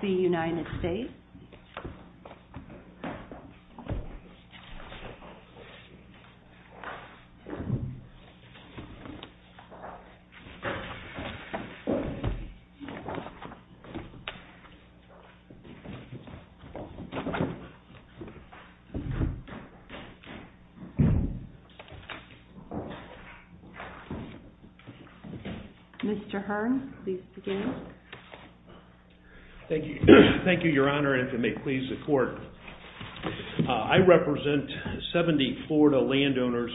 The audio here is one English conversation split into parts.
The United States. I think your honor, and to me, please support. I represent 70 Florida landowners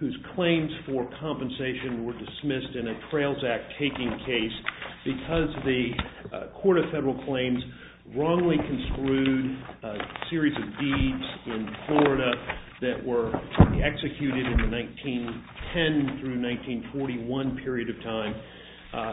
whose claims for compensation were dismissed in a Trails Act taking case because the Court of Federal Claims wrongly construed a series of deeds in Florida that were executed in the 1910-1941 period of time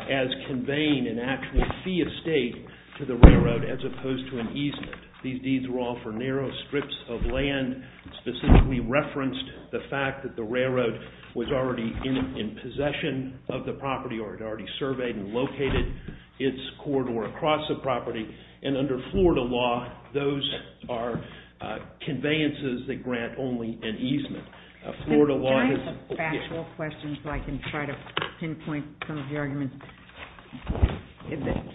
as conveying an actual fee of state to the railroad as opposed to an easement. These deeds were all for narrow strips of land. Specifically referenced the fact that the railroad was already in possession of the property or had already surveyed and located its corridor across the property. And under Florida law, those are conveyances that grant only an easement. Can I ask a factual question so I can try to pinpoint some of the arguments?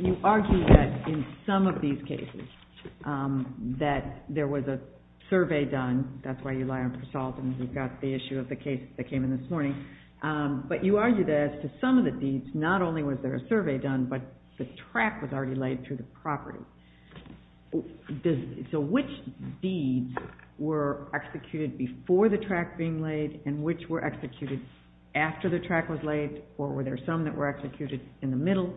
You argue that in some of these cases that there was a survey done. That's why you lie on salt and you've got the issue of the case that came in this morning. But you argue that as to some of the deeds, not only was there a survey done, but the track was already laid through the property. So which deeds were executed before the track being laid and which were executed after the track was laid? Or were there some that were executed in the middle?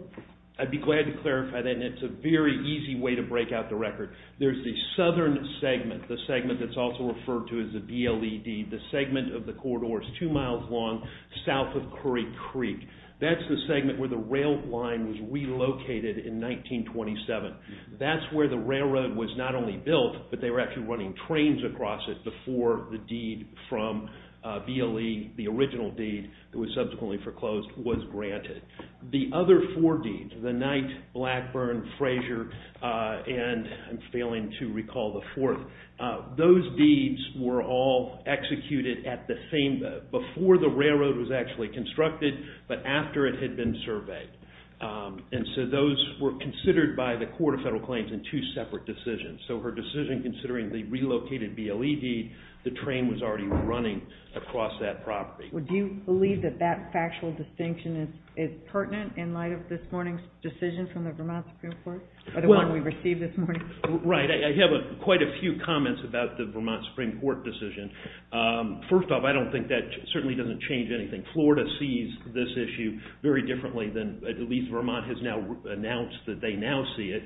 I'd be glad to clarify that. And it's a very easy way to break out the record. There's the southern segment, the segment that's also referred to as the BLED, the segment of the corridors two miles long south of Curry Creek. That's the segment where the rail line was relocated in 1927. That's where the railroad was not only built, but they were actually running trains across it before the deed from BLE, the original deed that was subsequently foreclosed, was granted. The other four deeds, the Knight, Blackburn, Frazier, and I'm failing to recall the fourth, those deeds were all executed before the railroad was actually constructed, but after it had been surveyed. And so those were considered by the Court of Federal Claims in two separate decisions. So her decision considering the relocated BLED, the train was already running across that property. Do you believe that that factual distinction is pertinent in light of this morning's decision from the Vermont Supreme Court? Or the one we received this morning? Right. I have quite a few comments about the Vermont Supreme Court decision. First off, I don't think that certainly doesn't change anything. Florida sees this issue very differently than at least Vermont has now announced that they now see it.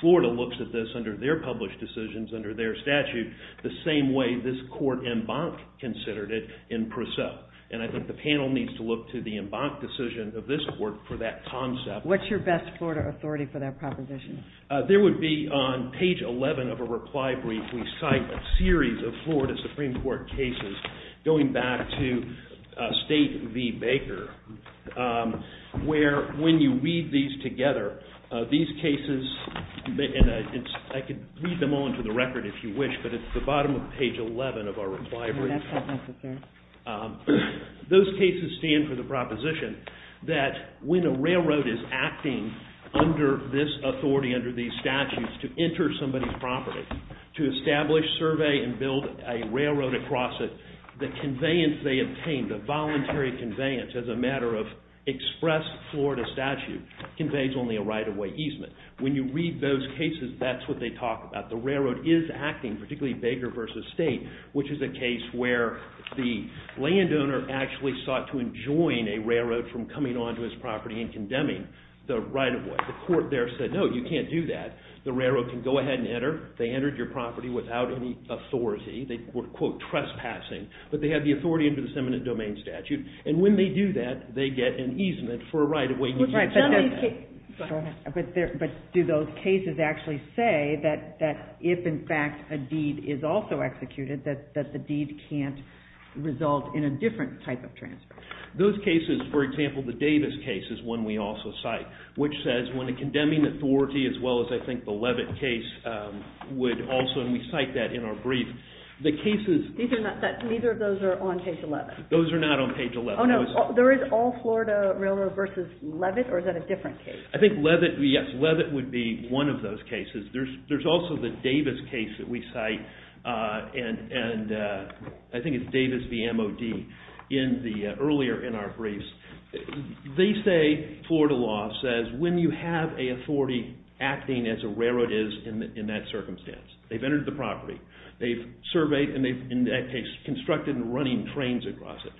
Florida looks at this under their published decisions, under their statute, the same way this Court en banc considered it in per se. And I think the panel needs to look to the en banc decision of this Court for that concept. What's your best Florida authority for that proposition? There would be on page 11 of a reply brief, we cite a series of Florida Supreme Court cases going back to State v. Baker, where when you read these together, these cases, and I could read them all into the record if you wish, but it's the bottom of page 11 of our reply brief. That's not necessary. Those cases stand for the proposition that when a railroad is acting under this authority, under these statutes, to enter somebody's property, to establish, survey, and build a railroad across it, the conveyance they obtain, the voluntary conveyance as a matter of express Florida statute, conveys only a right-of-way easement. When you read those cases, that's what they talk about. The railroad is acting, particularly Baker v. State, which is a case where the landowner actually sought to enjoin a railroad from coming onto his property and condemning the right-of-way. The Court there said, no, you can't do that. The railroad can go ahead and enter. They entered your property without any authority. They were, quote, trespassing. But they have the authority under this eminent domain statute. And when they do that, they get an easement for a right-of-way. But do those cases actually say that if, in fact, a deed is also executed, that the deed can't result in a different type of transfer? Those cases, for example, the Davis case is one we also cite, which says when a condemning authority as well as, I think, the Levitt case would also, and we cite that in our brief, the cases. These are not, neither of those are on page 11. Those are not on page 11. Oh, no, there is all Florida Railroad v. Levitt, or is that a different case? I think Levitt, yes, Levitt would be one of those cases. There's also the Davis case that we cite, and I think it's Davis v. M.O.D. earlier in our briefs. They say, Florida law says, when you have an authority acting as a railroad is in that circumstance. They've entered the property. They've surveyed and they've, in that case, constructed and running trains across it.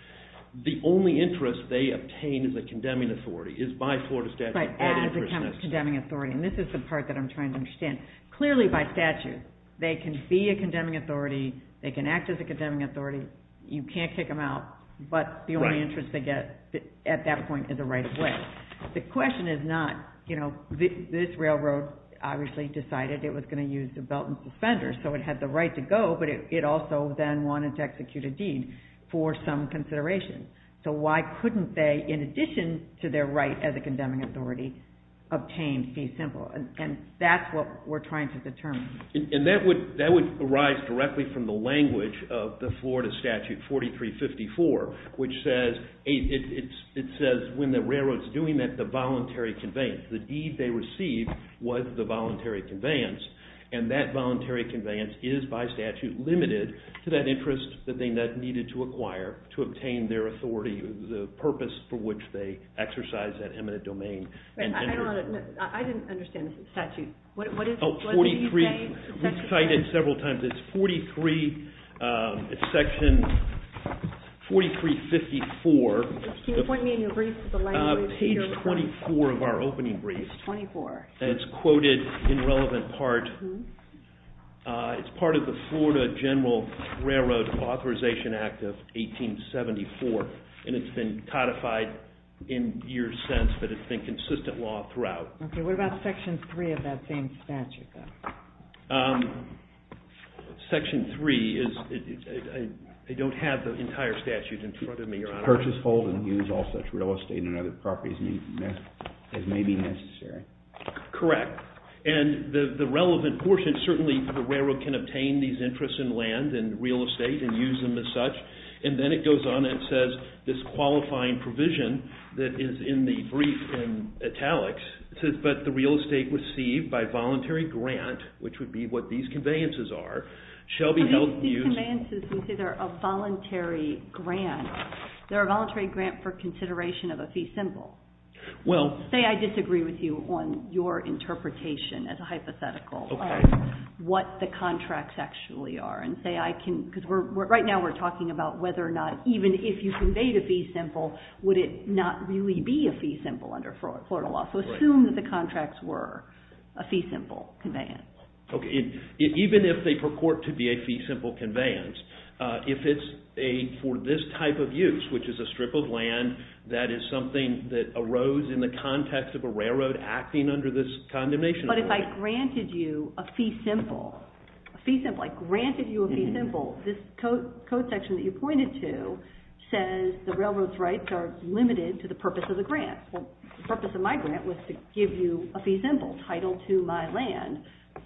The only interest they obtain as a condemning authority is by Florida statute. Right, as a condemning authority, and this is the part that I'm trying to understand. Clearly, by statute, they can be a condemning authority. They can act as a condemning authority. You can't kick them out, but the only interest they get at that point is a right-of-way. The question is not, you know, this railroad obviously decided it was going to use the belt and suspenders, so it had the right to go, but it also then wanted to execute a deed for some consideration. So why couldn't they, in addition to their right as a condemning authority, obtain fee simple? And that's what we're trying to determine. And that would arise directly from the language of the Florida statute 4354, which says, it says when the railroad's doing that, the voluntary conveyance, the deed they received was the voluntary conveyance, and that voluntary conveyance is by statute limited to that interest that they needed to acquire to obtain their authority, the purpose for which they exercised that eminent domain. I didn't understand the statute. We've cited it several times. It's section 4354, page 24 of our opening brief, and it's quoted in relevant part. It's part of the Florida General Railroad Authorization Act of 1874, and it's been codified in years since, but it's been consistent law throughout. Okay, what about section 3 of that same statute, though? Section 3 is, they don't have the entire statute in front of me. To purchase, hold, and use all such real estate and other properties as may be necessary. Correct. And the relevant portion, certainly the railroad can obtain these interests in land and real estate and use them as such, and then it goes on and says this qualifying provision that is in the brief in italics, but the real estate received by voluntary grant, which would be what these conveyances are, shall be held... These conveyances, you say they're a voluntary grant. They're a voluntary grant for consideration of a fee symbol. Well... Say I disagree with you on your interpretation as a hypothetical of what the contracts actually are, and say I can, because right now we're talking about whether or not, even if you conveyed a fee symbol, would it not really be a fee symbol under Florida law? So assume that the contracts were a fee symbol conveyance. Okay, even if they purport to be a fee symbol conveyance, if it's for this type of use, which is a strip of land that is something that arose in the context of a railroad acting under this condemnation... But if I granted you a fee symbol, a fee symbol, I granted you a fee symbol, this code section that you pointed to says the railroad's rights are limited to the purpose of the grant. The purpose of my grant was to give you a fee symbol, title to my land.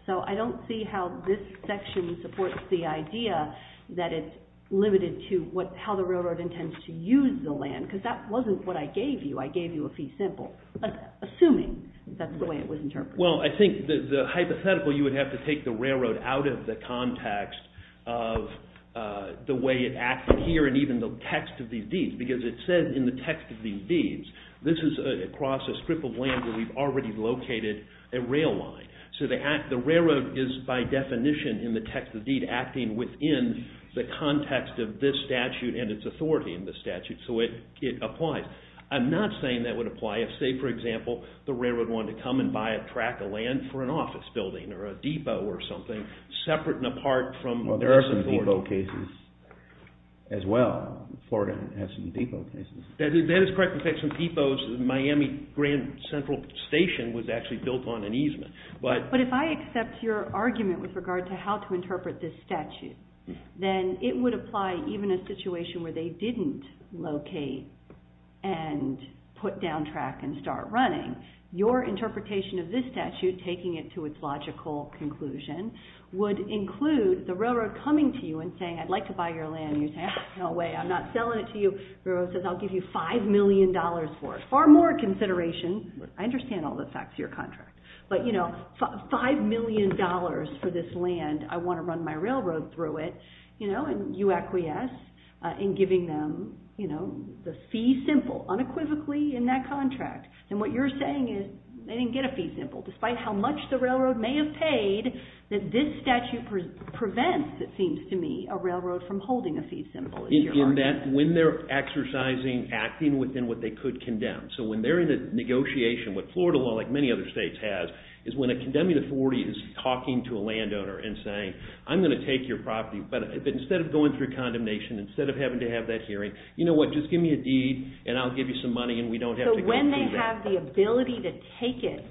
So I don't see how this section supports the idea that it's limited to how the railroad intends to use the land, because that wasn't what I gave you. I gave you a fee symbol, assuming that's the way it was interpreted. Well, I think the hypothetical, you would have to take the railroad out of the context of the way it acted here and even the text of these deeds, because it says in the text of these deeds, this is across a strip of land where we've already located a rail line. So the railroad is, by definition, in the text of the deed, acting within the context of this statute and its authority in the statute. So it applies. I'm not saying that would apply if, say, for example, the railroad wanted to come and buy a track of land for an office building or a depot or something, separate and apart from their authority. Well, there are some depot cases as well. Florida has some depot cases. That is correct. In fact, some depots, Miami Grand Central Station was actually built on an easement. But if I accept your argument with regard to how to interpret this statute, then it would apply even in a situation where they didn't locate and put down track and start running. Your interpretation of this statute, taking it to its logical conclusion, would include the railroad coming to you and saying, I'd like to buy your land, and you're saying, no way, I'm not selling it to you. The railroad says, I'll give you $5 million for it. Far more consideration. I understand all the facts of your contract. But, you know, $5 million for this land, I want to run my railroad through it, and you acquiesce in giving them the fee simple, unequivocally in that contract. And what you're saying is they didn't get a fee simple, despite how much the railroad may have paid, that this statute prevents, it seems to me, a railroad from holding a fee simple. When they're exercising, acting within what they could condemn. So when they're in a negotiation, what Florida law, like many other states, has, is when a condemning authority is talking to a landowner and saying, I'm going to take your property, but instead of going through condemnation, instead of having to have that hearing, you know what, just give me a deed, and I'll give you some money, and we don't have to go through that. So when they have the ability to take it,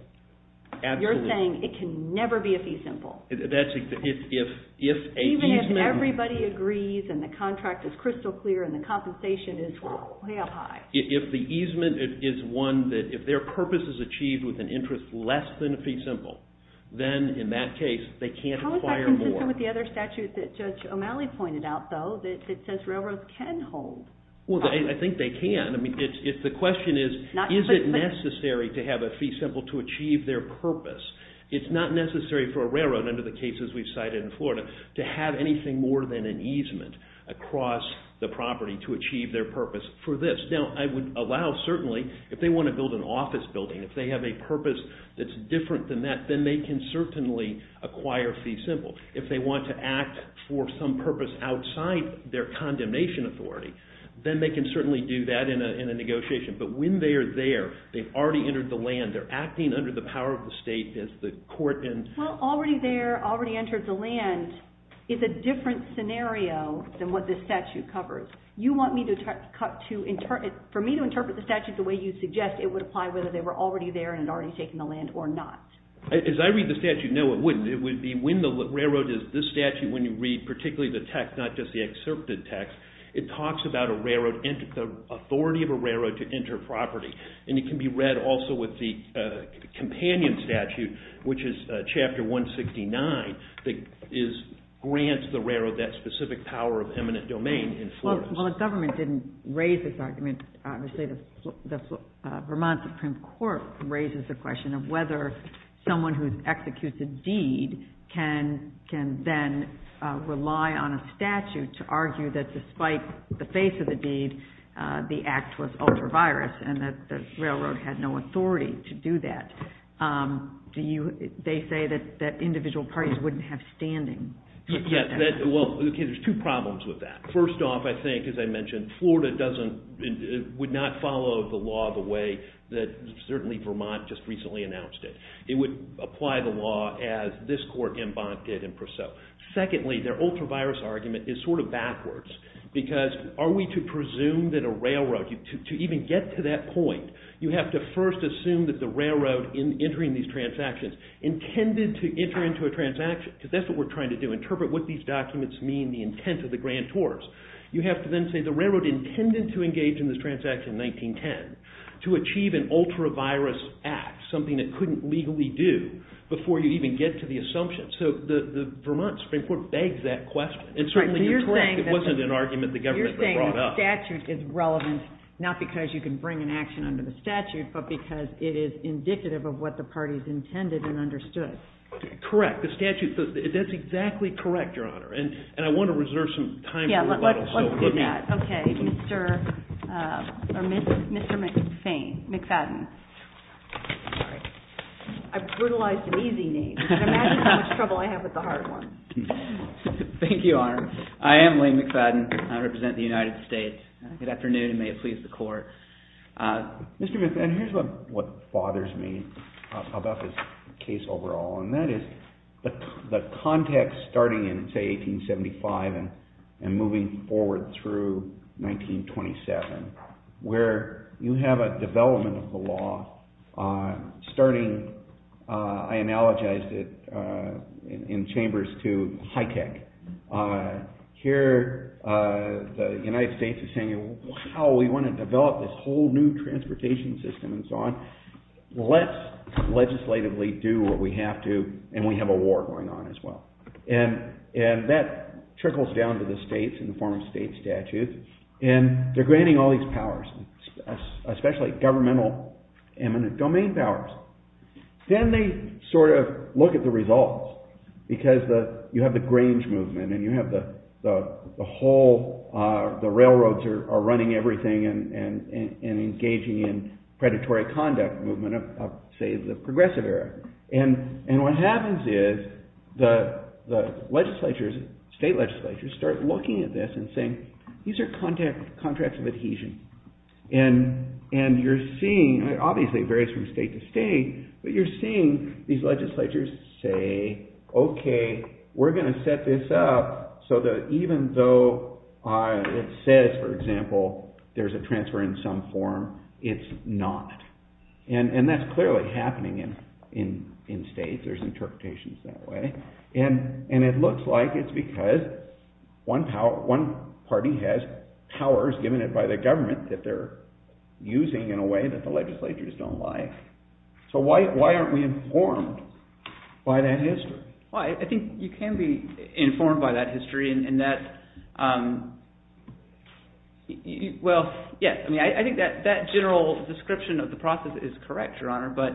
you're saying it can never be a fee simple. That's exactly. Even if everybody agrees, and the contract is crystal clear, and the compensation is way up high. If the easement is one that, if their purpose is achieved with an interest less than a fee simple, then in that case, they can't require more. How is that consistent with the other statutes that Judge O'Malley pointed out, though, that says railroads can hold? Well, I think they can. The question is, is it necessary to have a fee simple to achieve their purpose? It's not necessary for a railroad, under the cases we've cited in Florida, to have anything more than an easement across the property to achieve their purpose for this. Now, I would allow, certainly, if they want to build an office building, if they have a purpose that's different than that, then they can certainly acquire fee simple. If they want to act for some purpose outside their condemnation authority, then they can certainly do that in a negotiation. But when they are there, they've already entered the land, they're acting under the power of the state, as the court and… Well, already there, already entered the land, is a different scenario than what this statute covers. You want me to cut to… For me to interpret the statute the way you suggest, it would apply whether they were already there and had already taken the land or not. As I read the statute, no, it wouldn't. It would be when the railroad is… This statute, when you read particularly the text, not just the excerpted text, it talks about the authority of a railroad to enter property. And it can be read also with the companion statute, which is Chapter 169, that grants the railroad that specific power of eminent domain in Florence. Well, the government didn't raise this argument. Obviously the Vermont Supreme Court raises the question of whether someone who executes a deed can then rely on a statute to argue that despite the face of the deed, the act was ultra-virus and that the railroad had no authority to do that. They say that individual parties wouldn't have standing. Yes, well, there's two problems with that. First off, I think, as I mentioned, Florida would not follow the law the way that certainly Vermont just recently announced it. It would apply the law as this court in Bonn did in Purcell. Secondly, their ultra-virus argument is sort of backwards because are we to presume that a railroad, to even get to that point, you have to first assume that the railroad entering these transactions intended to enter into a transaction, because that's what we're trying to do, interpret what these documents mean, the intent of the grantors. You have to then say the railroad intended to engage in this transaction in 1910 to achieve an ultra-virus act, something it couldn't legally do before you even get to the assumption. So the Vermont Supreme Court begs that question. And certainly you're correct, it wasn't an argument the government brought up. The statute is relevant not because you can bring an action under the statute, but because it is indicative of what the parties intended and understood. Correct. The statute says that. That's exactly correct, Your Honor. And I want to reserve some time for rebuttal. Let's do that. Okay. Mr. McFadden. I brutalized an easy name. Can you imagine how much trouble I have with the hard one? Thank you, Your Honor. I am Lee McFadden. I represent the United States. Good afternoon and may it please the Court. Mr. McFadden, here's what bothers me about this case overall, and that is the context starting in, say, 1875 and moving forward through 1927 where you have a development of the law starting, I analogized it in Chambers, to high tech. Here the United States is saying, wow, we want to develop this whole new transportation system and so on. Let's legislatively do what we have to, and we have a war going on as well. And that trickles down to the states in the form of state statutes, and they're granting all these powers, especially governmental eminent domain powers. Then they sort of look at the results because you have the Grange movement and you have the whole, the railroads are running everything and engaging in predatory conduct movement of, say, the progressive era. And what happens is the legislatures, state legislatures, start looking at this and saying, these are contracts of adhesion. And you're seeing, obviously it varies from state to state, but you're seeing these legislatures say, okay, we're going to set this up so that even though it says, for example, there's a transfer in some form, it's not. And that's clearly happening in states, there's interpretations that way. And it looks like it's because one party has powers given it by the government that they're using in a way that the legislatures don't like. So why aren't we informed by that history? Well, I think you can be informed by that history in that, well, yes. I mean, I think that general description of the process is correct, Your Honor, but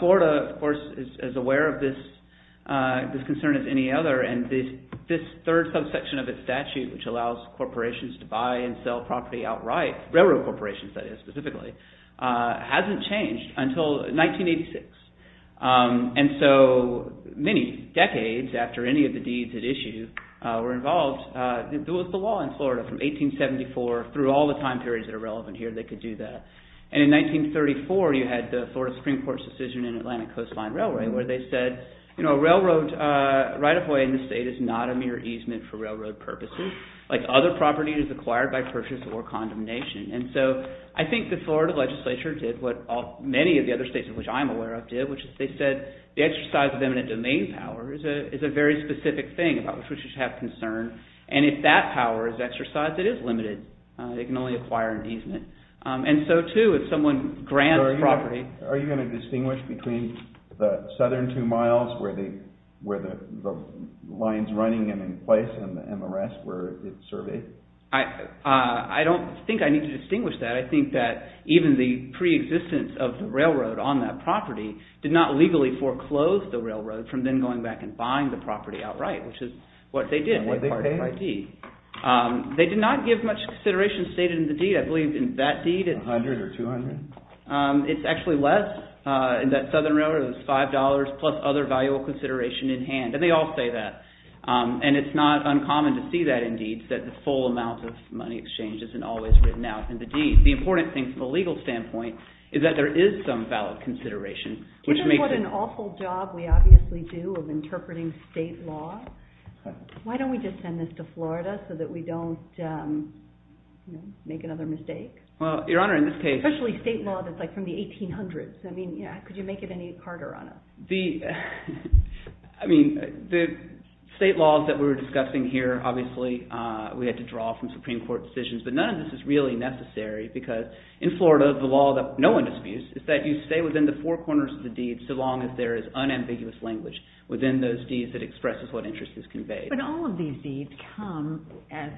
Florida, of course, is aware of this concern as any other, and this third subsection of its statute, which allows corporations to buy and sell property outright, railroad corporations, that is, specifically, hasn't changed until 1986. And so many decades after any of the deeds at issue were involved, there was the law in Florida from 1874 through all the time periods that are relevant here, they could do that. And in 1934, you had the Florida Supreme Court's decision in Atlantic Coast Line Railway where they said, you know, a railroad right-of-way in the state is not a mere easement for railroad purposes, like other property is acquired by purchase or condemnation. And so I think the Florida legislature did what many of the other states, which I'm aware of, did, which is they said the exercise of eminent domain power is a very specific thing about which we should have concern, and if that power is exercised, it is limited. It can only acquire an easement. And so, too, if someone grants property… Are you going to distinguish between the southern two miles where the line is running and in place and the rest where it's surveyed? I don't think I need to distinguish that. I think that even the preexistence of the railroad on that property did not legally foreclose the railroad from then going back and buying the property outright, which is what they did. And what did they pay? They did not give much consideration stated in the deed. I believe in that deed it's… A hundred or two hundred? It's actually less. In that southern railroad, it was $5 plus other valuable consideration in hand, and they all say that. And it's not uncommon to see that in deeds, that the full amount of money exchanged isn't always written out in the deed. The important thing from a legal standpoint is that there is some valid consideration, which makes it… That's what we obviously do of interpreting state law. Why don't we just send this to Florida so that we don't make another mistake? Well, Your Honor, in this case… Especially state law that's like from the 1800s. I mean, could you make it any harder on us? I mean, the state laws that we're discussing here, obviously we had to draw from Supreme Court decisions, but none of this is really necessary because in Florida, the law that no one disputes is that you stay within the four corners of the deed so long as there is unambiguous language within those deeds that expresses what interest is conveyed. But all of these deeds come, as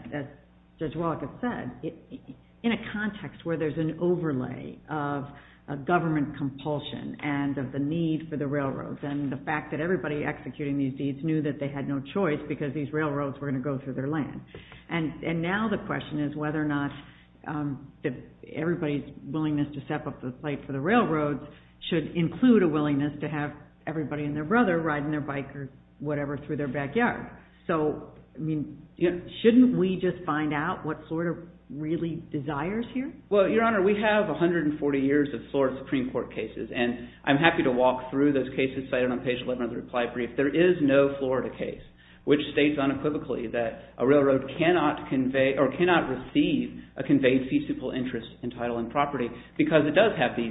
Judge Wallach has said, in a context where there's an overlay of a government compulsion and of the need for the railroads and the fact that everybody executing these deeds knew that they had no choice because these railroads were going to go through their land. And now the question is whether or not everybody's willingness to step up to the plate for the railroads should include a willingness to have everybody and their brother riding their bike or whatever through their backyard. So, I mean, shouldn't we just find out what Florida really desires here? Well, Your Honor, we have 140 years of Florida Supreme Court cases, and I'm happy to walk through those cases cited on page 11 of the reply brief. There is no Florida case which states unequivocally that a railroad cannot receive a conveyed feasible interest in title and property because it does have these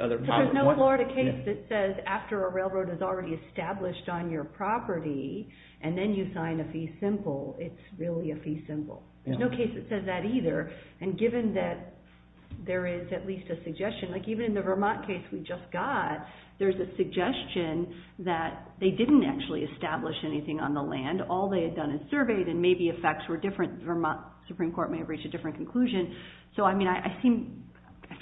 other problems. But there's no Florida case that says after a railroad is already established on your property and then you sign a fee simple, it's really a fee simple. There's no case that says that either. And given that there is at least a suggestion, like even in the Vermont case we just got, there's a suggestion that they didn't actually establish anything on the land. All they had done is surveyed and maybe effects were different. The Vermont Supreme Court may have reached a different conclusion. So, I mean, I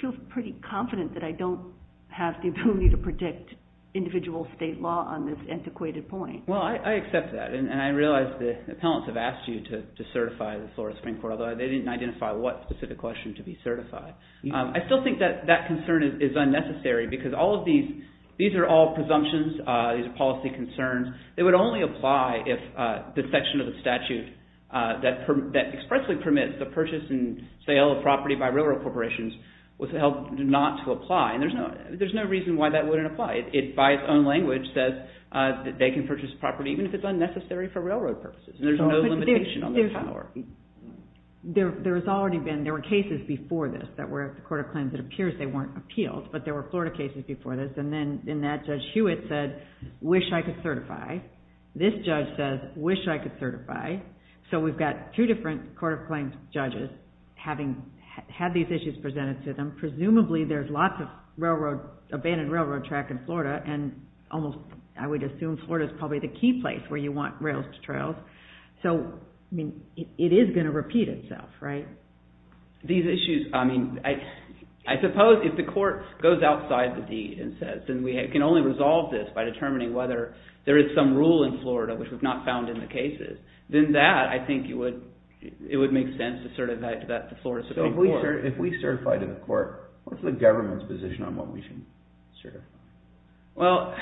feel pretty confident that I don't have the ability to predict individual state law on this antiquated point. Well, I accept that, and I realize the appellants have asked you to certify the Florida Supreme Court, although they didn't identify what specific question to be certified. I still think that that concern is unnecessary because all of these, these are all presumptions. These are policy concerns. They would only apply if the section of the statute that expressly permits the purchase and sale of property by railroad corporations was to help not to apply. And there's no reason why that wouldn't apply. It, by its own language, says that they can purchase property even if it's unnecessary for railroad purposes. And there's no limitation on their power. There has already been, there were cases before this that were, if the court of claims it appears they weren't appealed, but there were Florida cases before this. And then, in that, Judge Hewitt said, wish I could certify. This judge says, wish I could certify. So, we've got two different court of claims judges having had these issues presented to them. Presumably, there's lots of railroad, abandoned railroad track in Florida, and almost, I would assume, Florida's probably the key place where you want rails to trails. So, I mean, it is going to repeat itself, right? These issues, I mean, I suppose if the court goes outside the deed and says, and we can only resolve this by determining whether there is some rule in Florida which we've not found in the cases, then that, I think, it would make sense to certify to the Florida Supreme Court. So, if we certify to the court, what's the government's position on what we should certify? Well,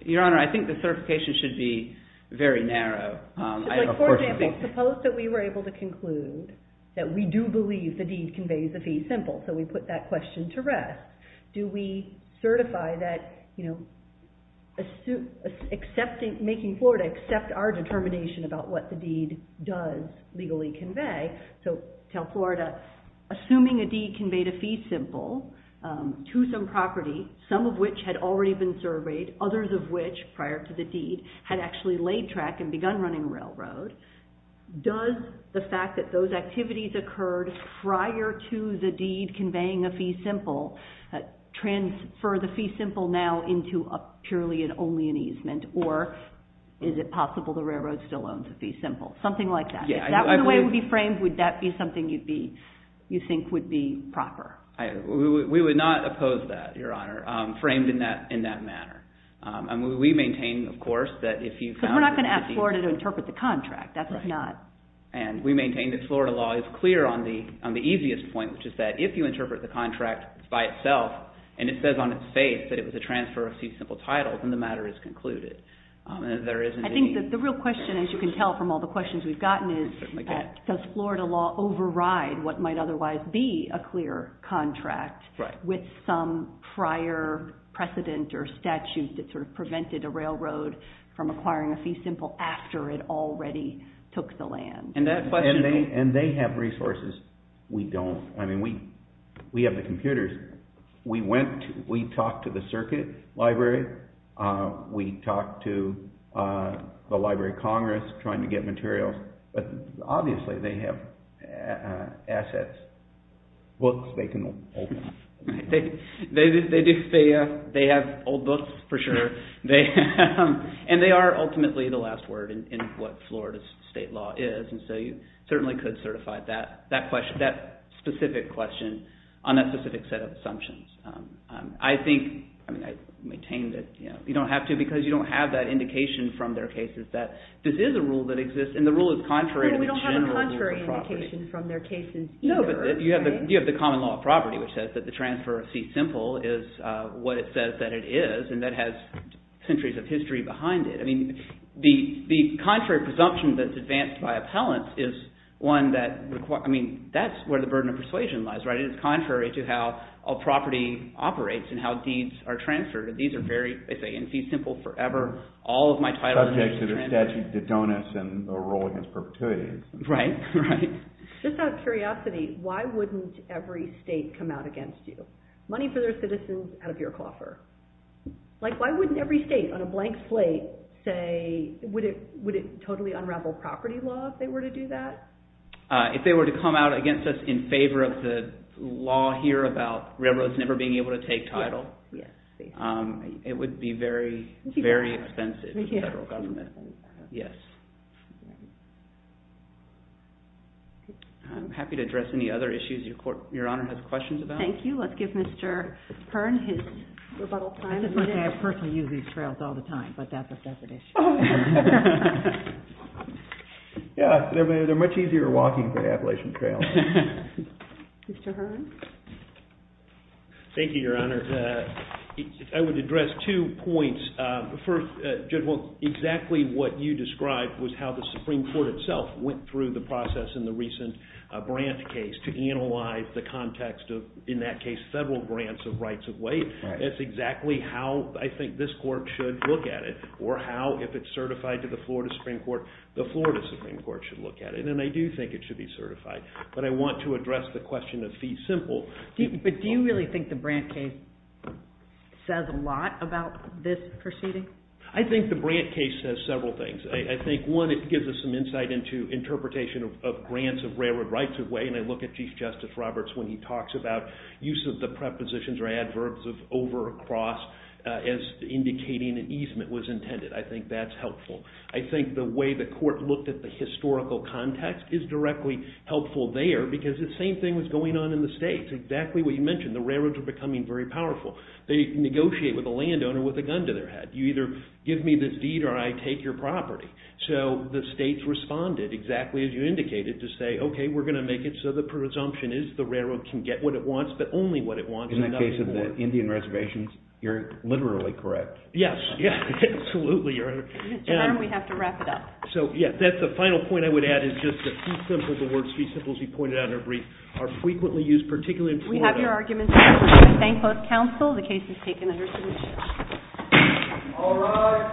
Your Honor, I think the certification should be very narrow. For example, suppose that we were able to conclude that we do believe the deed conveys a fee simple, so we put that question to rest. Do we certify that, you know, making Florida accept our determination about what the deed does legally convey? So, tell Florida, assuming a deed conveyed a fee simple to some property, some of which had already been surveyed, others of which, prior to the deed, had actually laid track and begun running a railroad, does the fact that those activities occurred prior to the deed conveying a fee simple transfer the fee simple now into purely and only an easement, or is it possible the railroad still owns a fee simple? Something like that. If that were the way it would be framed, would that be something you think would be proper? We would not oppose that, Your Honor, framed in that manner. We maintain, of course, that if you found a deed... But we're not going to ask Florida to interpret the contract. That's not... And we maintain that Florida law is clear on the easiest point, which is that if you interpret the contract by itself, and it says on its face that it was a transfer of fee simple title, then the matter is concluded. I think that the real question, as you can tell from all the questions we've gotten, is does Florida law override what might otherwise be a clear contract with some prior precedent or statute that sort of prevented a railroad from acquiring a fee simple after it already took the land? And that question... And they have resources. We don't. I mean, we have the computers. We talked to the circuit library. We talked to the Library of Congress trying to get materials. But obviously they have assets, books they can open up. They have old books, for sure. And they are ultimately the last word in what Florida's state law is. And so you certainly could certify that specific question on that specific set of assumptions. I think... I mean, I maintain that you don't have to because you don't have that indication from their cases that this is a rule that exists. And the rule is contrary to the general rule of property. We don't have a contrary indication from their cases either. No, but you have the common law of property, which says that the transfer of fee simple is what it says that it is, and that has centuries of history behind it. The contrary presumption that's advanced by appellants is one that requires... I mean, that's where the burden of persuasion lies, right? It is contrary to how a property operates and how deeds are transferred. These are very... They say, in fee simple forever, all of my titles... Subject to the statute that don't extend the role against perpetuity. Right, right. Just out of curiosity, why wouldn't every state come out against you? Money for their citizens out of your coffer. Like, why wouldn't every state on a blank slate say... Would it totally unravel property law if they were to do that? If they were to come out against us in favor of the law here about railroads never being able to take title, it would be very, very expensive for the federal government. Yes. I'm happy to address any other issues Your Honor has questions about. Thank you. Let's give Mr. Hearn his rebuttal time. I just want to say I personally use these trails all the time, but that's a separate issue. Yeah, they're much easier walking than Appalachian Trail. Mr. Hearn? Thank you, Your Honor. I would address two points. First, Judge Wolk, exactly what you described was how the Supreme Court itself went through the process in the recent Brandt case to analyze the context of, in that case, federal grants of rights of way. That's exactly how I think this court should look at it, or how, if it's certified to the Florida Supreme Court, the Florida Supreme Court should look at it. And I do think it should be certified. But I want to address the question of fee simple. But do you really think the Brandt case says a lot about this proceeding? I think the Brandt case says several things. I think, one, it gives us some insight into interpretation of grants of railroad rights of way, and I look at Chief Justice Roberts when he talks about use of the prepositions or adverbs of over or across as indicating an easement was intended. I think that's helpful. I think the way the court looked at the historical context is directly helpful there, because the same thing was going on in the states, exactly what you mentioned. The railroads are becoming very powerful. They negotiate with a landowner with a gun to their head. You either give me this deed or I take your property. So the states responded, exactly as you indicated, to say, okay, we're going to make it so the presumption is the railroad can get what it wants, but only what it wants. In the case of the Indian reservations, you're literally correct. Yes, absolutely. Mr. Hiram, we have to wrap it up. So, yes, that's the final point I would add, is just that fee simple, the words fee simple, as you pointed out in your brief, are frequently used, particularly in Florida. We have your arguments. Thank both counsel. The case is taken under submission. All rise.